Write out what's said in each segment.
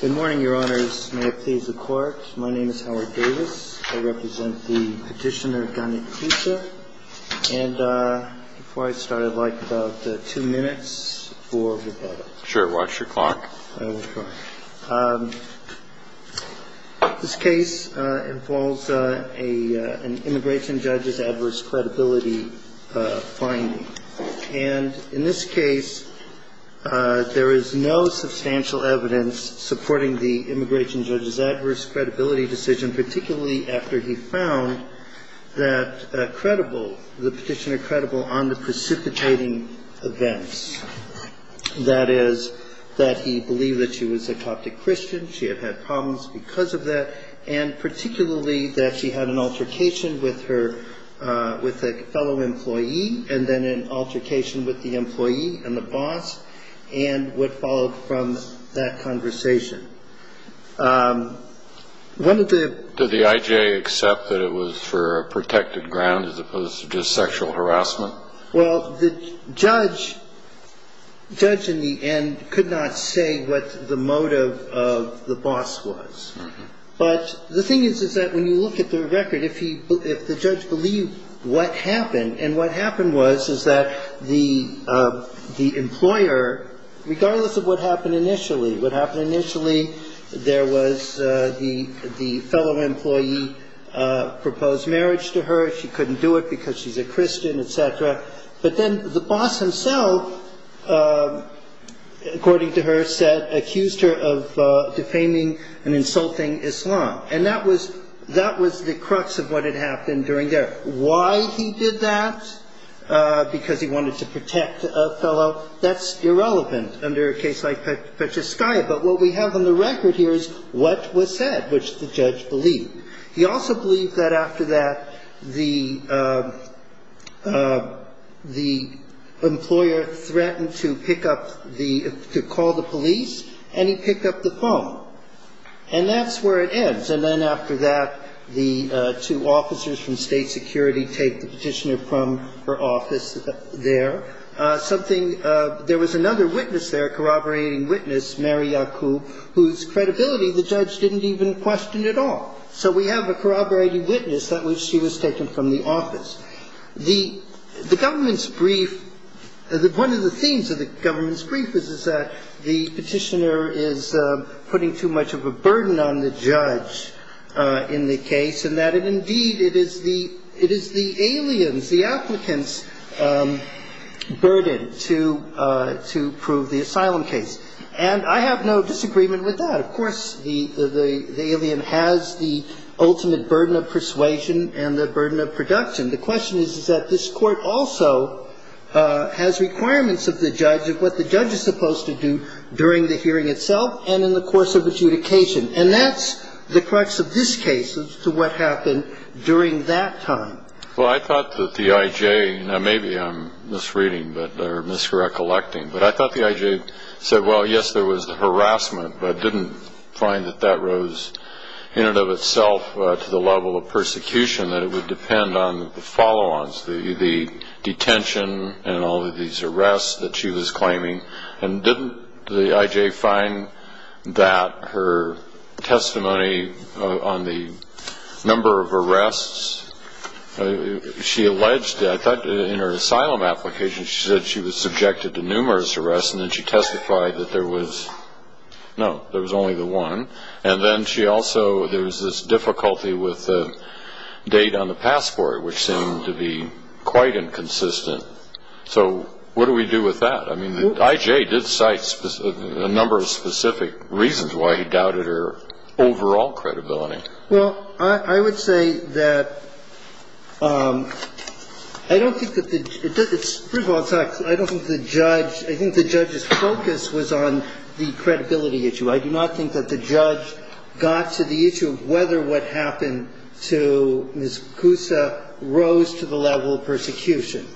Good morning, your honors. May it please the court. My name is Howard Davis. I represent the petitioner, Danit Koussa. And before I start, I'd like about two minutes for rebuttal. Sure. Watch your clock. This case involves a an immigration judge's adverse credibility finding. And in this case, there is no substantial evidence supporting the immigration judge's adverse credibility decision, particularly after he found that credible, the petitioner credible on the precipitating events. That is, that he believed that she was a Coptic Christian, she had had problems because of that, and particularly that she had an altercation with her with a fellow employee and then an altercation with the employee and the boss and what followed from that conversation. One of the. Did the IJ accept that it was for a protected ground as opposed to just sexual harassment? Well, the judge judge in the end could not say what the motive of the boss was. But the thing is, is that when you look at the record, if he if the judge believed what happened and what happened was, is that the the employer, regardless of what happened initially, what happened initially, there was the the fellow employee proposed marriage to her. She couldn't do it because she's a Christian, et cetera. But then the boss himself, according to her, said accused her of defaming and insulting Islam. And that was that was the crux of what had happened during there. Why he did that, because he wanted to protect a fellow. That's irrelevant under a case like Petrosky. But what we have on the record here is what was said, which the judge believed. He also believed that after that, the the employer threatened to pick up the to call the police and he picked up the phone. And that's where it ends. And then after that, the two officers from state security take the petitioner from her office there. Something there was another witness there, corroborating witness, Mary Yacoub, whose credibility the judge didn't even question at all. So we have a corroborating witness that she was taken from the office. The government's brief. One of the themes of the government's brief is that the petitioner is putting too much of a burden on the judge in the case and that indeed it is the it is the aliens, the applicants burden to to prove the asylum case. And I have no disagreement with that. Of course, the the the alien has the ultimate burden of persuasion and the burden of production. The question is, is that this court also has requirements of the judge of what the judge is supposed to do during the hearing itself and in the course of adjudication. And that's the crux of this case to what happened during that time. Well, I thought that the IJ and maybe I'm misreading that or misrecollecting. But I thought the IJ said, well, yes, there was the harassment, but didn't find that that rose in and of itself to the level of persecution, that it would depend on the follow on the detention and all of these arrests that she was claiming. And didn't the IJ find that her testimony on the number of arrests she alleged that in her asylum application, she said she was subjected to numerous arrests and then she testified that there was no, there was only the one. And then she also there was this difficulty with the date on the passport, which seemed to be quite inconsistent. So what do we do with that? I mean, the IJ did cite a number of specific reasons why he doubted her overall credibility. Well, I would say that I don't think that the, first of all, I don't think the judge, I think the judge's focus was on the credibility issue. I do not think that the judge got to the issue of whether what happened to Ms. Koussa rose to the level of persecution.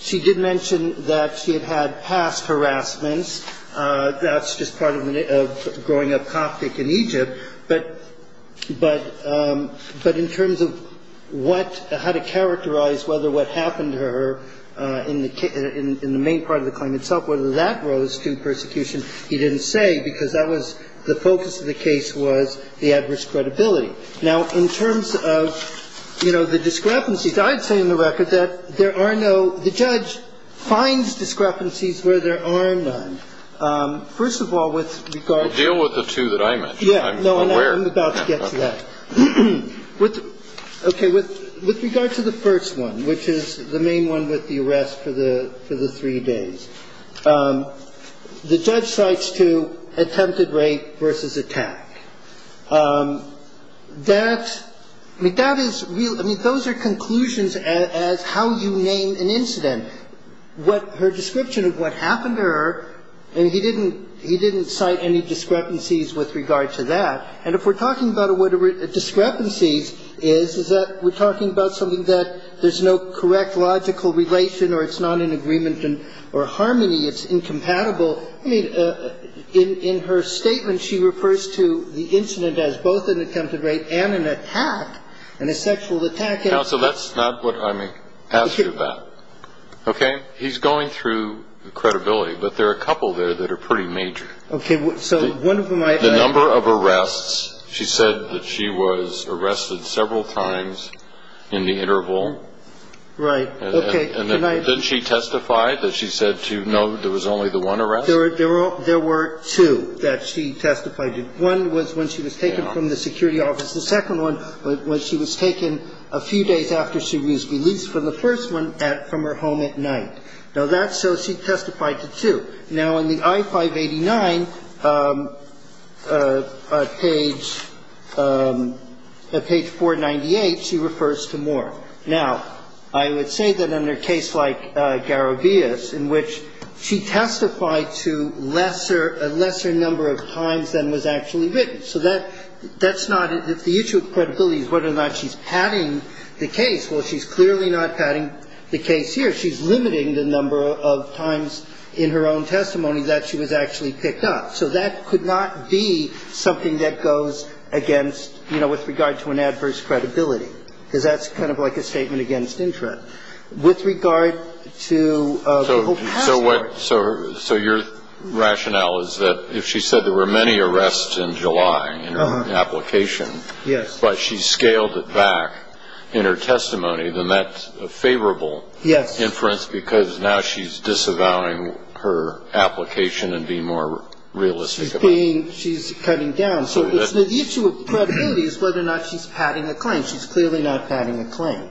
She did mention that she had had past harassments. That's just part of growing up Coptic in Egypt. But in terms of what, how to characterize whether what happened to her in the main part of the claim itself, whether that rose to persecution, he didn't say because that was the focus of the case was the adverse credibility. Now, in terms of, you know, the discrepancies, I'd say in the record that there are no, the judge finds discrepancies where there are none. First of all, with regard to. Deal with the two that I mentioned. I'm aware. I'm about to get to that. Okay. With regard to the first one, which is the main one with the arrest for the three days. The judge cites two attempted rape versus attack. That, I mean, that is real. I mean, those are conclusions as how you name an incident. What her description of what happened to her, and he didn't cite any discrepancies with regard to that. And if we're talking about what a discrepancy is, is that we're talking about something that there's no correct logical relation or it's not in agreement or harmony. It's incompatible. I mean, in her statement, she refers to the incident as both an attempted rape and an attack and a sexual attack. So that's not what I mean. Okay. Okay. He's going through the credibility, but there are a couple there that are pretty major. Okay. So one of my number of arrests, she said that she was arrested several times in the interval. Right. Okay. Did she testify that she said to know there was only the one arrest? There were two that she testified to. One was when she was taken from the security office. The second one was when she was taken a few days after she was released from the first one from her home at night. Now, that's so she testified to two. Now, in the I-589, page 498, she refers to more. Now, I would say that in a case like Garabias, in which she testified to lesser a lesser number of times than was actually written. So that's not the issue of credibility is whether or not she's padding the case. Well, she's clearly not padding the case here. She's limiting the number of times in her own testimony that she was actually picked up. So that could not be something that goes against, you know, with regard to an adverse credibility, because that's kind of like a statement against interest. With regard to people's passwords. So your rationale is that if she said there were many arrests in July in her application. Yes. But she scaled it back in her testimony, then that's a favorable inference because now she's disavowing her application and being more realistic about it. She's cutting down. So the issue of credibility is whether or not she's padding a claim. And she's clearly not padding a claim.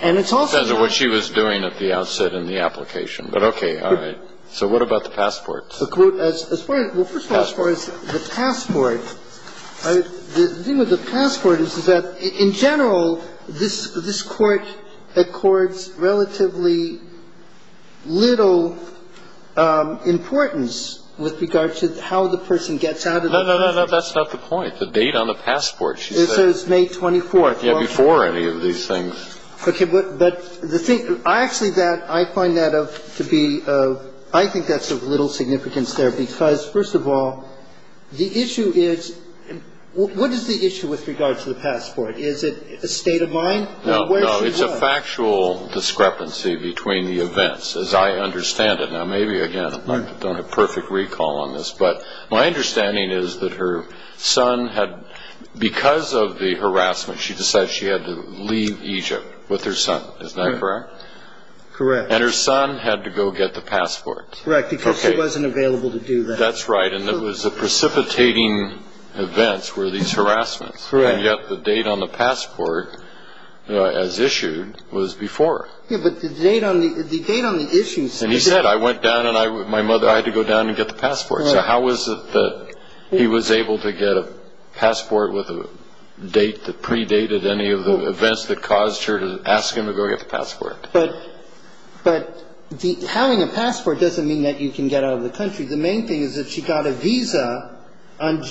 And it's also not. She says what she was doing at the outset in the application. But okay. All right. So what about the passports? Well, first of all, as far as the passport, the thing with the passport is that in general, this Court accords relatively little importance with regard to how the person gets out of the country. No, no, no. That's not the point. The date on the passport, she says. May 24th. Yeah. Before any of these things. Okay. But the thing, actually, that I find that to be, I think that's of little significance there. Because, first of all, the issue is, what is the issue with regard to the passport? Is it a state of mind? No, no. It's a factual discrepancy between the events, as I understand it. Now, maybe, again, I don't have perfect recall on this. But my understanding is that her son had, because of the harassment, she decided she had to leave Egypt with her son. Is that correct? Correct. And her son had to go get the passport. Correct. Because he wasn't available to do that. That's right. And it was precipitating events were these harassments. Correct. And yet the date on the passport, as issued, was before. Yeah, but the date on the issue. And he said, I went down and my mother, I had to go down and get the passport. So how was it that he was able to get a passport with a date that predated any of the events that caused her to ask him to go get the passport? But having a passport doesn't mean that you can get out of the country. The main thing is that she got a visa on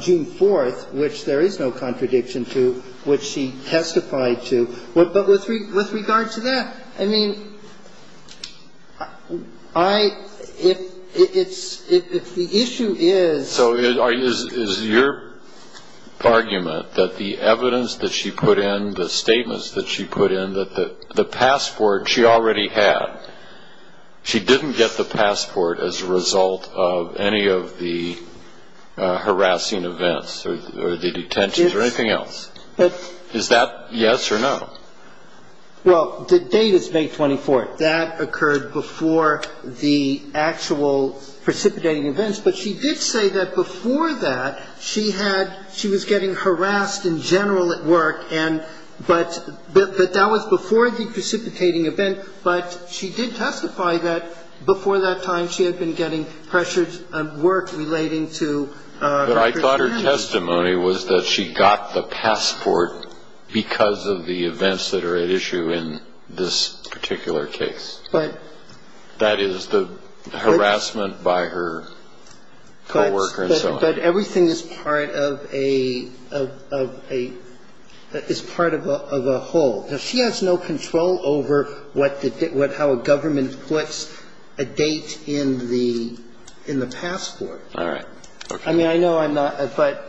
June 4th, which there is no contradiction to, which she testified to. But with regard to that, I mean, if the issue is... So is your argument that the evidence that she put in, the statements that she put in, that the passport she already had, she didn't get the passport as a result of any of the harassing events or the detentions or anything else? Is that yes or no? Well, the date is May 24th. That occurred before the actual precipitating events. But she did say that before that she had, she was getting harassed in general at work, but that was before the precipitating event. But she did testify that before that time she had been getting pressured at work relating to... So she has no control over the date in the passport because of the events that are at issue in this particular case? But... That is, the harassment by her co-worker and so on? But everything is part of a, is part of a whole. Now, she has no control over what the, how a government puts a date in the, in the passport. All right. Okay. I mean, I know I'm not, but...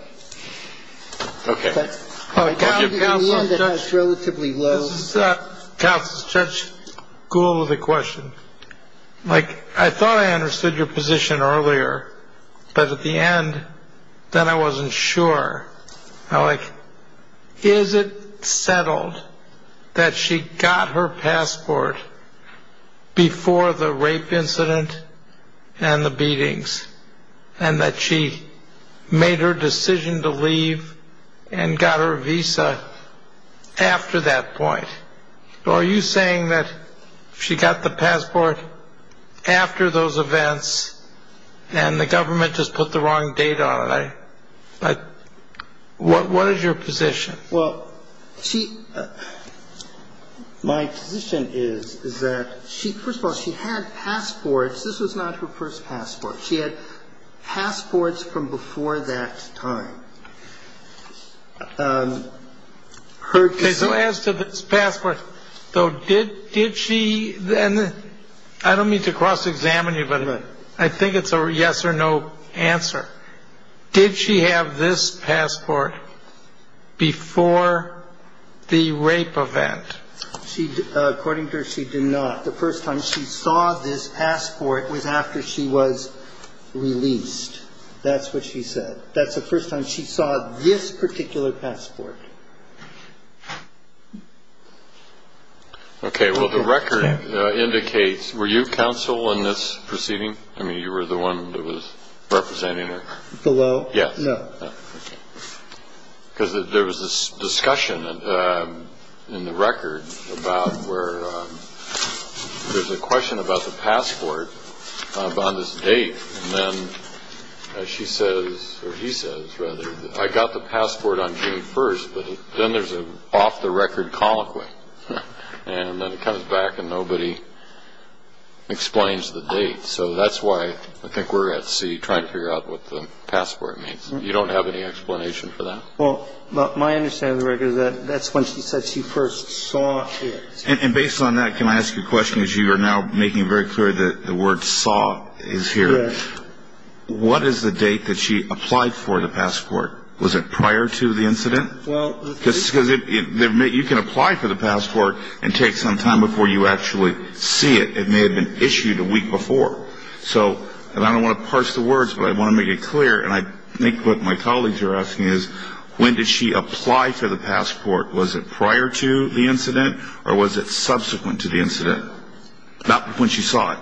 Okay. But... Counsel... At the end, it has relatively low... Counsel, Judge Gould has a question. Like, I thought I understood your position earlier, but at the end, then I wasn't sure. Like, is it settled that she got her passport before the rape incident and the beatings, and that she made her decision to leave and got her visa after that point? Or are you saying that she got the passport after those events and the government just put the wrong date on it? Okay. But what is your position? Well, she... My position is, is that she... First of all, she had passports. This was not her first passport. She had passports from before that time. Her decision... Okay. So as to the passport. So did... Did she... And I don't mean to cross-examine you, but I think it's a yes or no answer. Did she have this passport before the rape event? She... According to her, she did not. The first time she saw this passport was after she was released. That's what she said. That's the first time she saw this particular passport. Okay. Well, the record indicates... Were you counsel in this proceeding? I mean, you were the one that was representing her? Below? Yes. No. Okay. Because there was this discussion in the record about where there's a question about the passport on this date, and then she says, or he says, rather, I got the passport on June 1st, but then there's an off-the-record colloquy. And then it comes back and nobody explains the date. So that's why I think we're at sea trying to figure out what the passport means. You don't have any explanation for that? Well, my understanding of the record is that that's when she said she first saw it. And based on that, can I ask a question, as you are now making very clear that the word saw is here? Yes. What is the date that she applied for the passport? Was it prior to the incident? Well... Because you can apply for the passport and take some time before you actually see it. It may have been issued a week before. So, and I don't want to parse the words, but I want to make it clear, and I think what my colleagues are asking is, when did she apply for the passport? Was it prior to the incident or was it subsequent to the incident? Not when she saw it.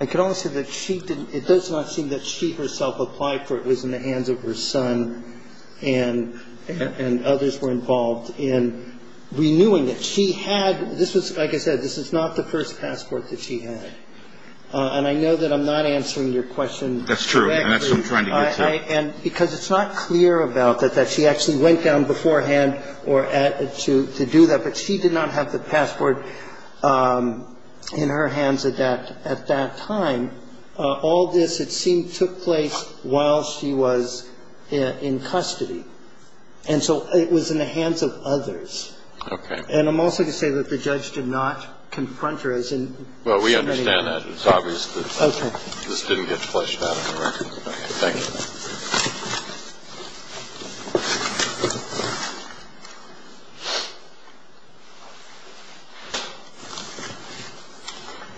I can only say that she didn't... It does not seem that she herself applied for it. It was in the hands of her son and others were involved in renewing it. She had... This was, like I said, this is not the first passport that she had. And I know that I'm not answering your question directly. That's true. And that's what I'm trying to get to. And because it's not clear about that, that she actually went down beforehand to do that, but she did not have the passport in her hands at that time. All this, it seemed, took place while she was in custody. And so it was in the hands of others. Okay. And I'm also going to say that the judge did not confront her as in... Well, we understand that. It's obvious that... Okay. Thank you.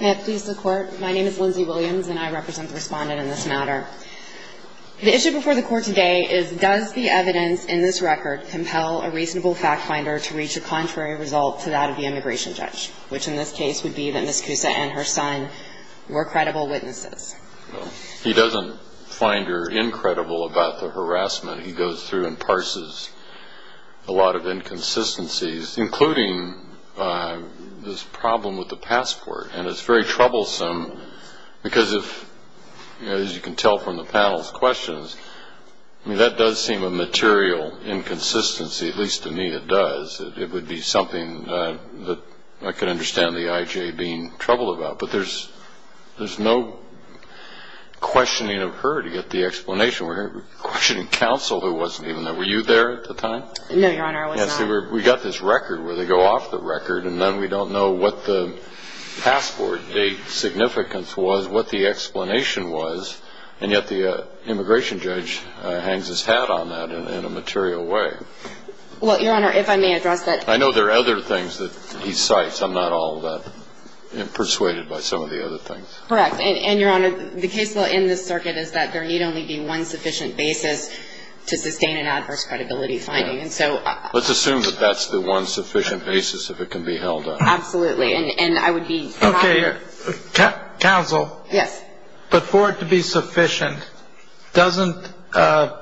May it please the Court. My name is Lindsay Williams, and I represent the Respondent in this matter. The issue before the Court today is does the evidence in this record compel a reasonable fact finder to reach a contrary result to that of the immigration judge, which in this case would be that Ms. Cusa and her son were credible witnesses? He doesn't find her incredible about the harassment. He goes through and parses a lot of inconsistencies, including this problem with the passport. And it's very troublesome because, as you can tell from the panel's questions, that does seem a material inconsistency. At least to me it does. It would be something that I could understand the I.J. being troubled about. But there's no questioning of her to get the explanation. We're questioning counsel who wasn't even there. Were you there at the time? No, Your Honor, I was not. We got this record where they go off the record, and then we don't know what the passport date significance was, what the explanation was, and yet the immigration judge hangs his hat on that in a material way. Well, Your Honor, if I may address that... Correct. And, Your Honor, the case law in this circuit is that there need only be one sufficient basis to sustain an adverse credibility finding. And so... Let's assume that that's the one sufficient basis that it can be held on. Absolutely. And I would be happy to... Okay. Counsel. Yes. But for it to be sufficient, doesn't the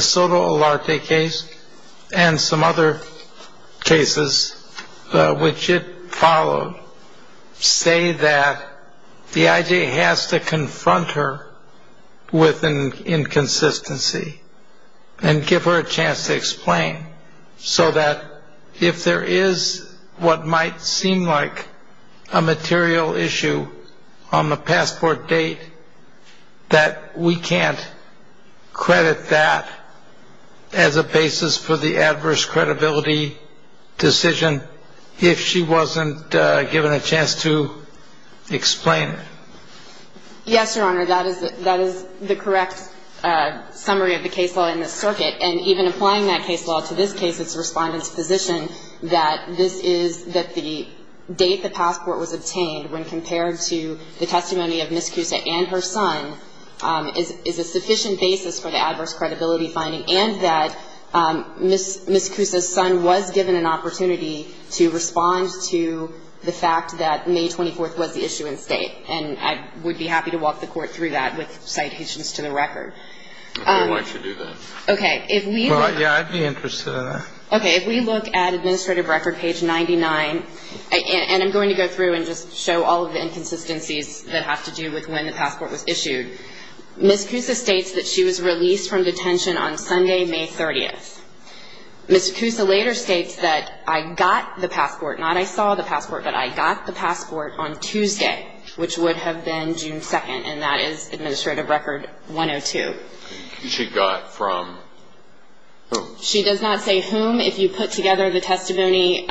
Soto Olarte case, and some other cases which it followed, say that the I.J. has to confront her with an inconsistency and give her a chance to explain, so that if there is what might seem like a material issue on the passport date, that we can't credit that as a basis for the adverse credibility decision if she wasn't given a chance to explain it? Yes, Your Honor, that is the correct summary of the case law in this circuit. And even applying that case law to this case, it's the Respondent's position that this is, that the date the passport was obtained when compared to the testimony of Ms. Kusa and her son is a sufficient basis for the adverse credibility finding, and that Ms. Kusa's son was given an opportunity to respond to the fact that May 24th was the issue in State. And I would be happy to walk the Court through that with citations to the record. Okay. Why don't you do that? Okay. Well, yeah, I'd be interested in that. Okay. If we look at Administrative Record page 99, and I'm going to go through and just show all of the inconsistencies that have to do with when the passport was issued, Ms. Kusa states that she was released from detention on Sunday, May 30th. Ms. Kusa later states that I got the passport, not I saw the passport, but I got the passport on Tuesday, which would have been June 2nd, and that is Administrative Record 102. She got from whom? She does not say whom. If you put together the testimony,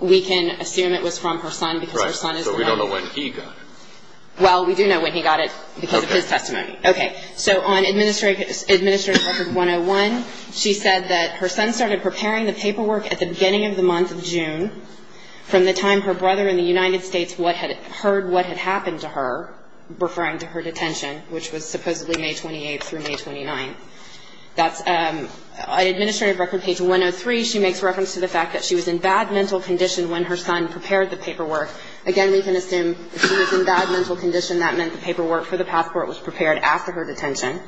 we can assume it was from her son because her son is the one. Right. So we don't know when he got it. Well, we do know when he got it because of his testimony. Okay. Okay. So on Administrative Record 101, she said that her son started preparing the paperwork at the beginning of the month of June from the time her brother in the United States heard what had happened to her, referring to her detention, which was supposedly May 28th through May 29th. That's an Administrative Record page 103. She makes reference to the fact that she was in bad mental condition when her son prepared the paperwork. Again, we can assume if she was in bad mental condition, that meant the paperwork for the passport was prepared after her detention.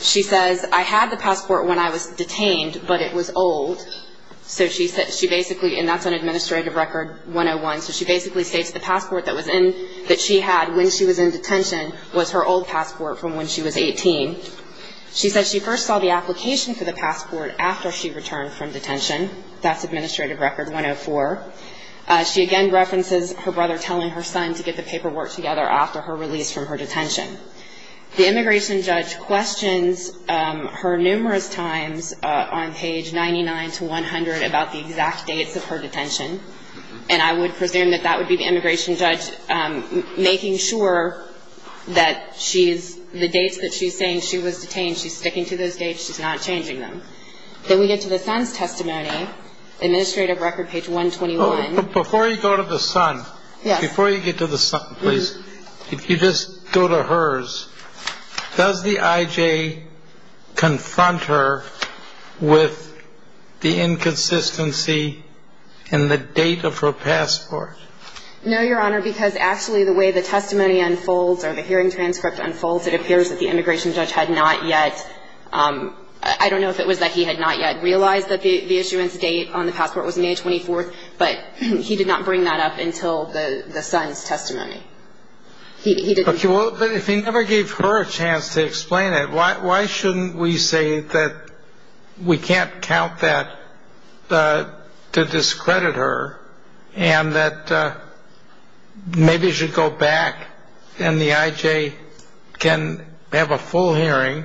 She says, I had the passport when I was detained, but it was old. So she basically, and that's on Administrative Record 101, so she basically states the passport that she had when she was in detention was her old passport from when she was 18. She says she first saw the application for the passport after she returned from detention. That's Administrative Record 104. She again references her brother telling her son to get the paperwork together after her release from her detention. The immigration judge questions her numerous times on page 99 to 100 about the exact dates of her detention, and I would presume that that would be the immigration judge making sure that she's, the dates that she's saying she was detained, she's sticking to those dates, she's not changing them. Then we get to the son's testimony, Administrative Record page 121. Before you go to the son, before you get to the son, please, if you just go to hers, does the IJ confront her with the inconsistency in the date of her passport? No, Your Honor, because actually the way the testimony unfolds or the hearing transcript unfolds, it appears that the immigration judge had not yet, I don't know if it was that he had not yet realized that the issuance date on the passport was May 24th, but he did not bring that up until the son's testimony. Okay, well, but if he never gave her a chance to explain it, why shouldn't we say that we can't count that to discredit her and that maybe you should go back and the IJ can have a full hearing,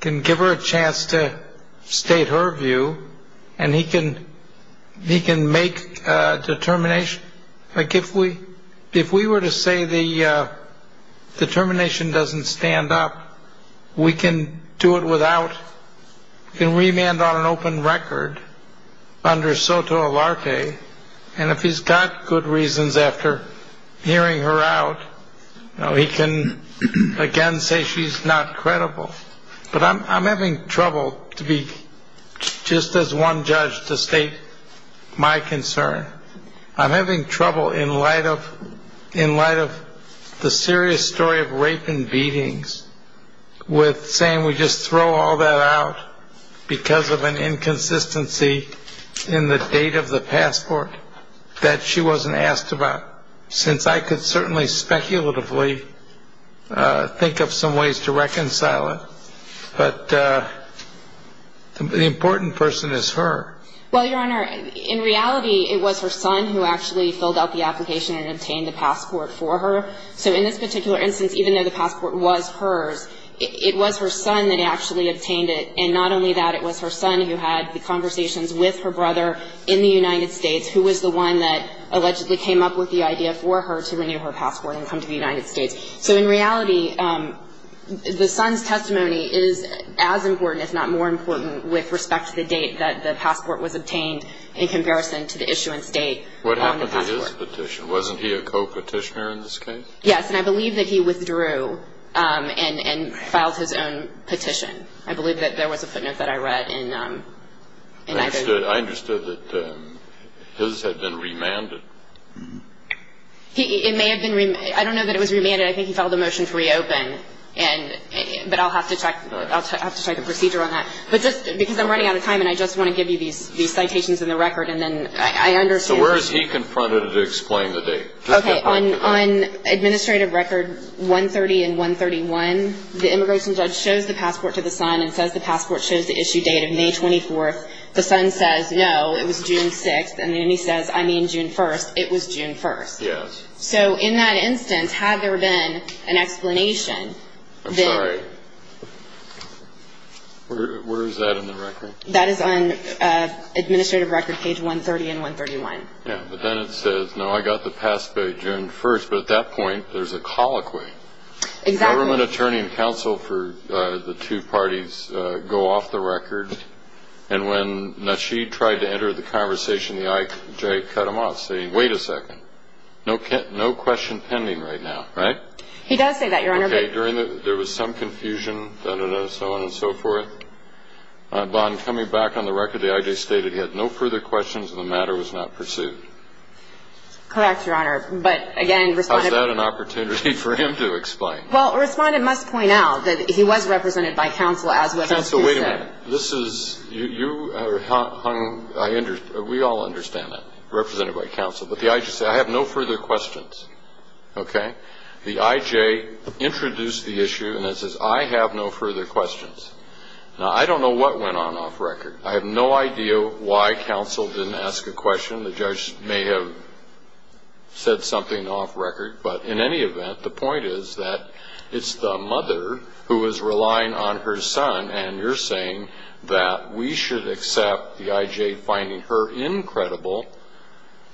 can give her a chance to state her view, and he can make a determination. Judge, if we were to say the determination doesn't stand up, we can do it without, we can remand on an open record under SOTO Alarte, and if he's got good reasons after hearing her out, he can again say she's not credible. But I'm having trouble to be just as one judge to state my concern. I'm having trouble in light of the serious story of rape and beatings with saying we just throw all that out because of an inconsistency in the date of the passport that she wasn't asked about, since I could certainly speculatively think of some ways to reconcile it. But the important person is her. Well, Your Honor, in reality, it was her son who actually filled out the application and obtained the passport for her. So in this particular instance, even though the passport was hers, it was her son that actually obtained it. And not only that, it was her son who had the conversations with her brother in the United States who was the one that allegedly came up with the idea for her to renew her passport and come to the United States. So in reality, the son's testimony is as important, if not more important, with respect to the date that the passport was obtained in comparison to the issuance date on the passport. What happened to his petition? Wasn't he a co-petitioner in this case? Yes, and I believe that he withdrew and filed his own petition. I believe that there was a footnote that I read. I understood that his had been remanded. It may have been remanded. I don't know that it was remanded. I think he filed a motion to reopen, but I'll have to check the procedure on that. But just because I'm running out of time and I just want to give you these citations in the record and then I understand. So where is he confronted to explain the date? Okay, on administrative record 130 and 131, the immigration judge shows the passport to the son and says the passport shows the issue date of May 24th. The son says, no, it was June 6th. And then he says, I mean June 1st. It was June 1st. Yes. So in that instance, had there been an explanation? I'm sorry. Where is that in the record? That is on administrative record page 130 and 131. Yes, but then it says, no, I got the passport June 1st. But at that point, there's a colloquy. Exactly. Government attorney and counsel for the two parties go off the record. And when Nasheed tried to enter the conversation, the IJ cut him off, saying, wait a second. No question pending right now, right? He does say that, Your Honor. Okay. There was some confusion, so on and so forth. Bond, coming back on the record, the IJ stated he had no further questions, and the matter was not pursued. Correct, Your Honor. But, again, Respondent. How is that an opportunity for him to explain? Well, Respondent must point out that he was represented by counsel, as was his case. Wait a minute. You are hung. We all understand that, represented by counsel. But the IJ said, I have no further questions. Okay? The IJ introduced the issue and it says, I have no further questions. Now, I don't know what went on off record. I have no idea why counsel didn't ask a question. The judge may have said something off record. But, in any event, the point is that it's the mother who is relying on her son, and you're saying that we should accept the IJ finding her incredible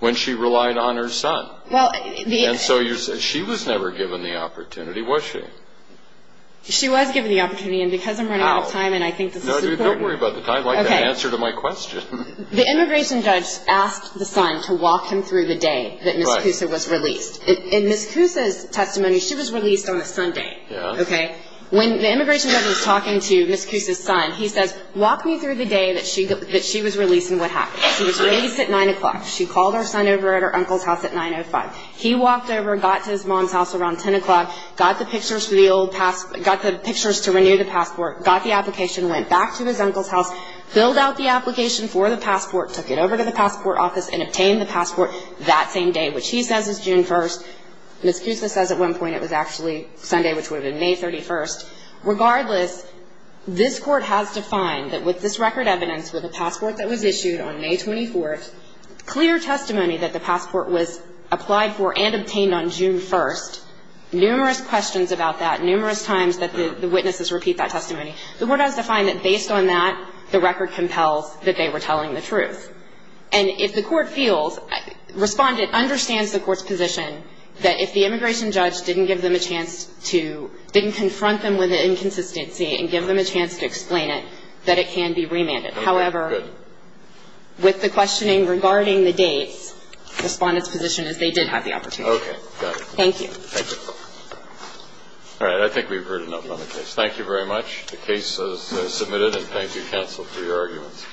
when she relied on her son. And so she was never given the opportunity, was she? She was given the opportunity, and because I'm running out of time and I think this is important. No, don't worry about the time. I'd like the answer to my question. The immigration judge asked the son to walk him through the day that Ms. Cusa was released. In Ms. Cusa's testimony, she was released on a Sunday. When the immigration judge was talking to Ms. Cusa's son, he says, walk me through the day that she was released and what happened. She was released at 9 o'clock. She called her son over at her uncle's house at 9 o'clock. He walked over and got to his mom's house around 10 o'clock, got the pictures to renew the passport, got the application, went back to his uncle's house, filled out the application for the passport, took it over to the passport office and obtained the passport that same day, which he says is June 1st. Ms. Cusa says at one point it was actually Sunday, which would have been May 31st. Regardless, this Court has defined that with this record evidence, with the passport that was issued on May 24th, clear testimony that the passport was applied for and obtained on June 1st, numerous questions about that, numerous times that the witnesses repeat that testimony, the Court has defined that based on that, the record compels that they were telling the truth. And if the Court feels respondent understands the Court's position, that if the immigration judge didn't give them a chance to, didn't confront them with the inconsistency and give them a chance to explain it, that it can be remanded. However, with the questioning regarding the dates, respondent's position is they did have the opportunity. Okay. Got it. Thank you. Thank you. All right. I think we've heard enough on the case. Thank you very much. The case is submitted, and thank you, counsel, for your arguments.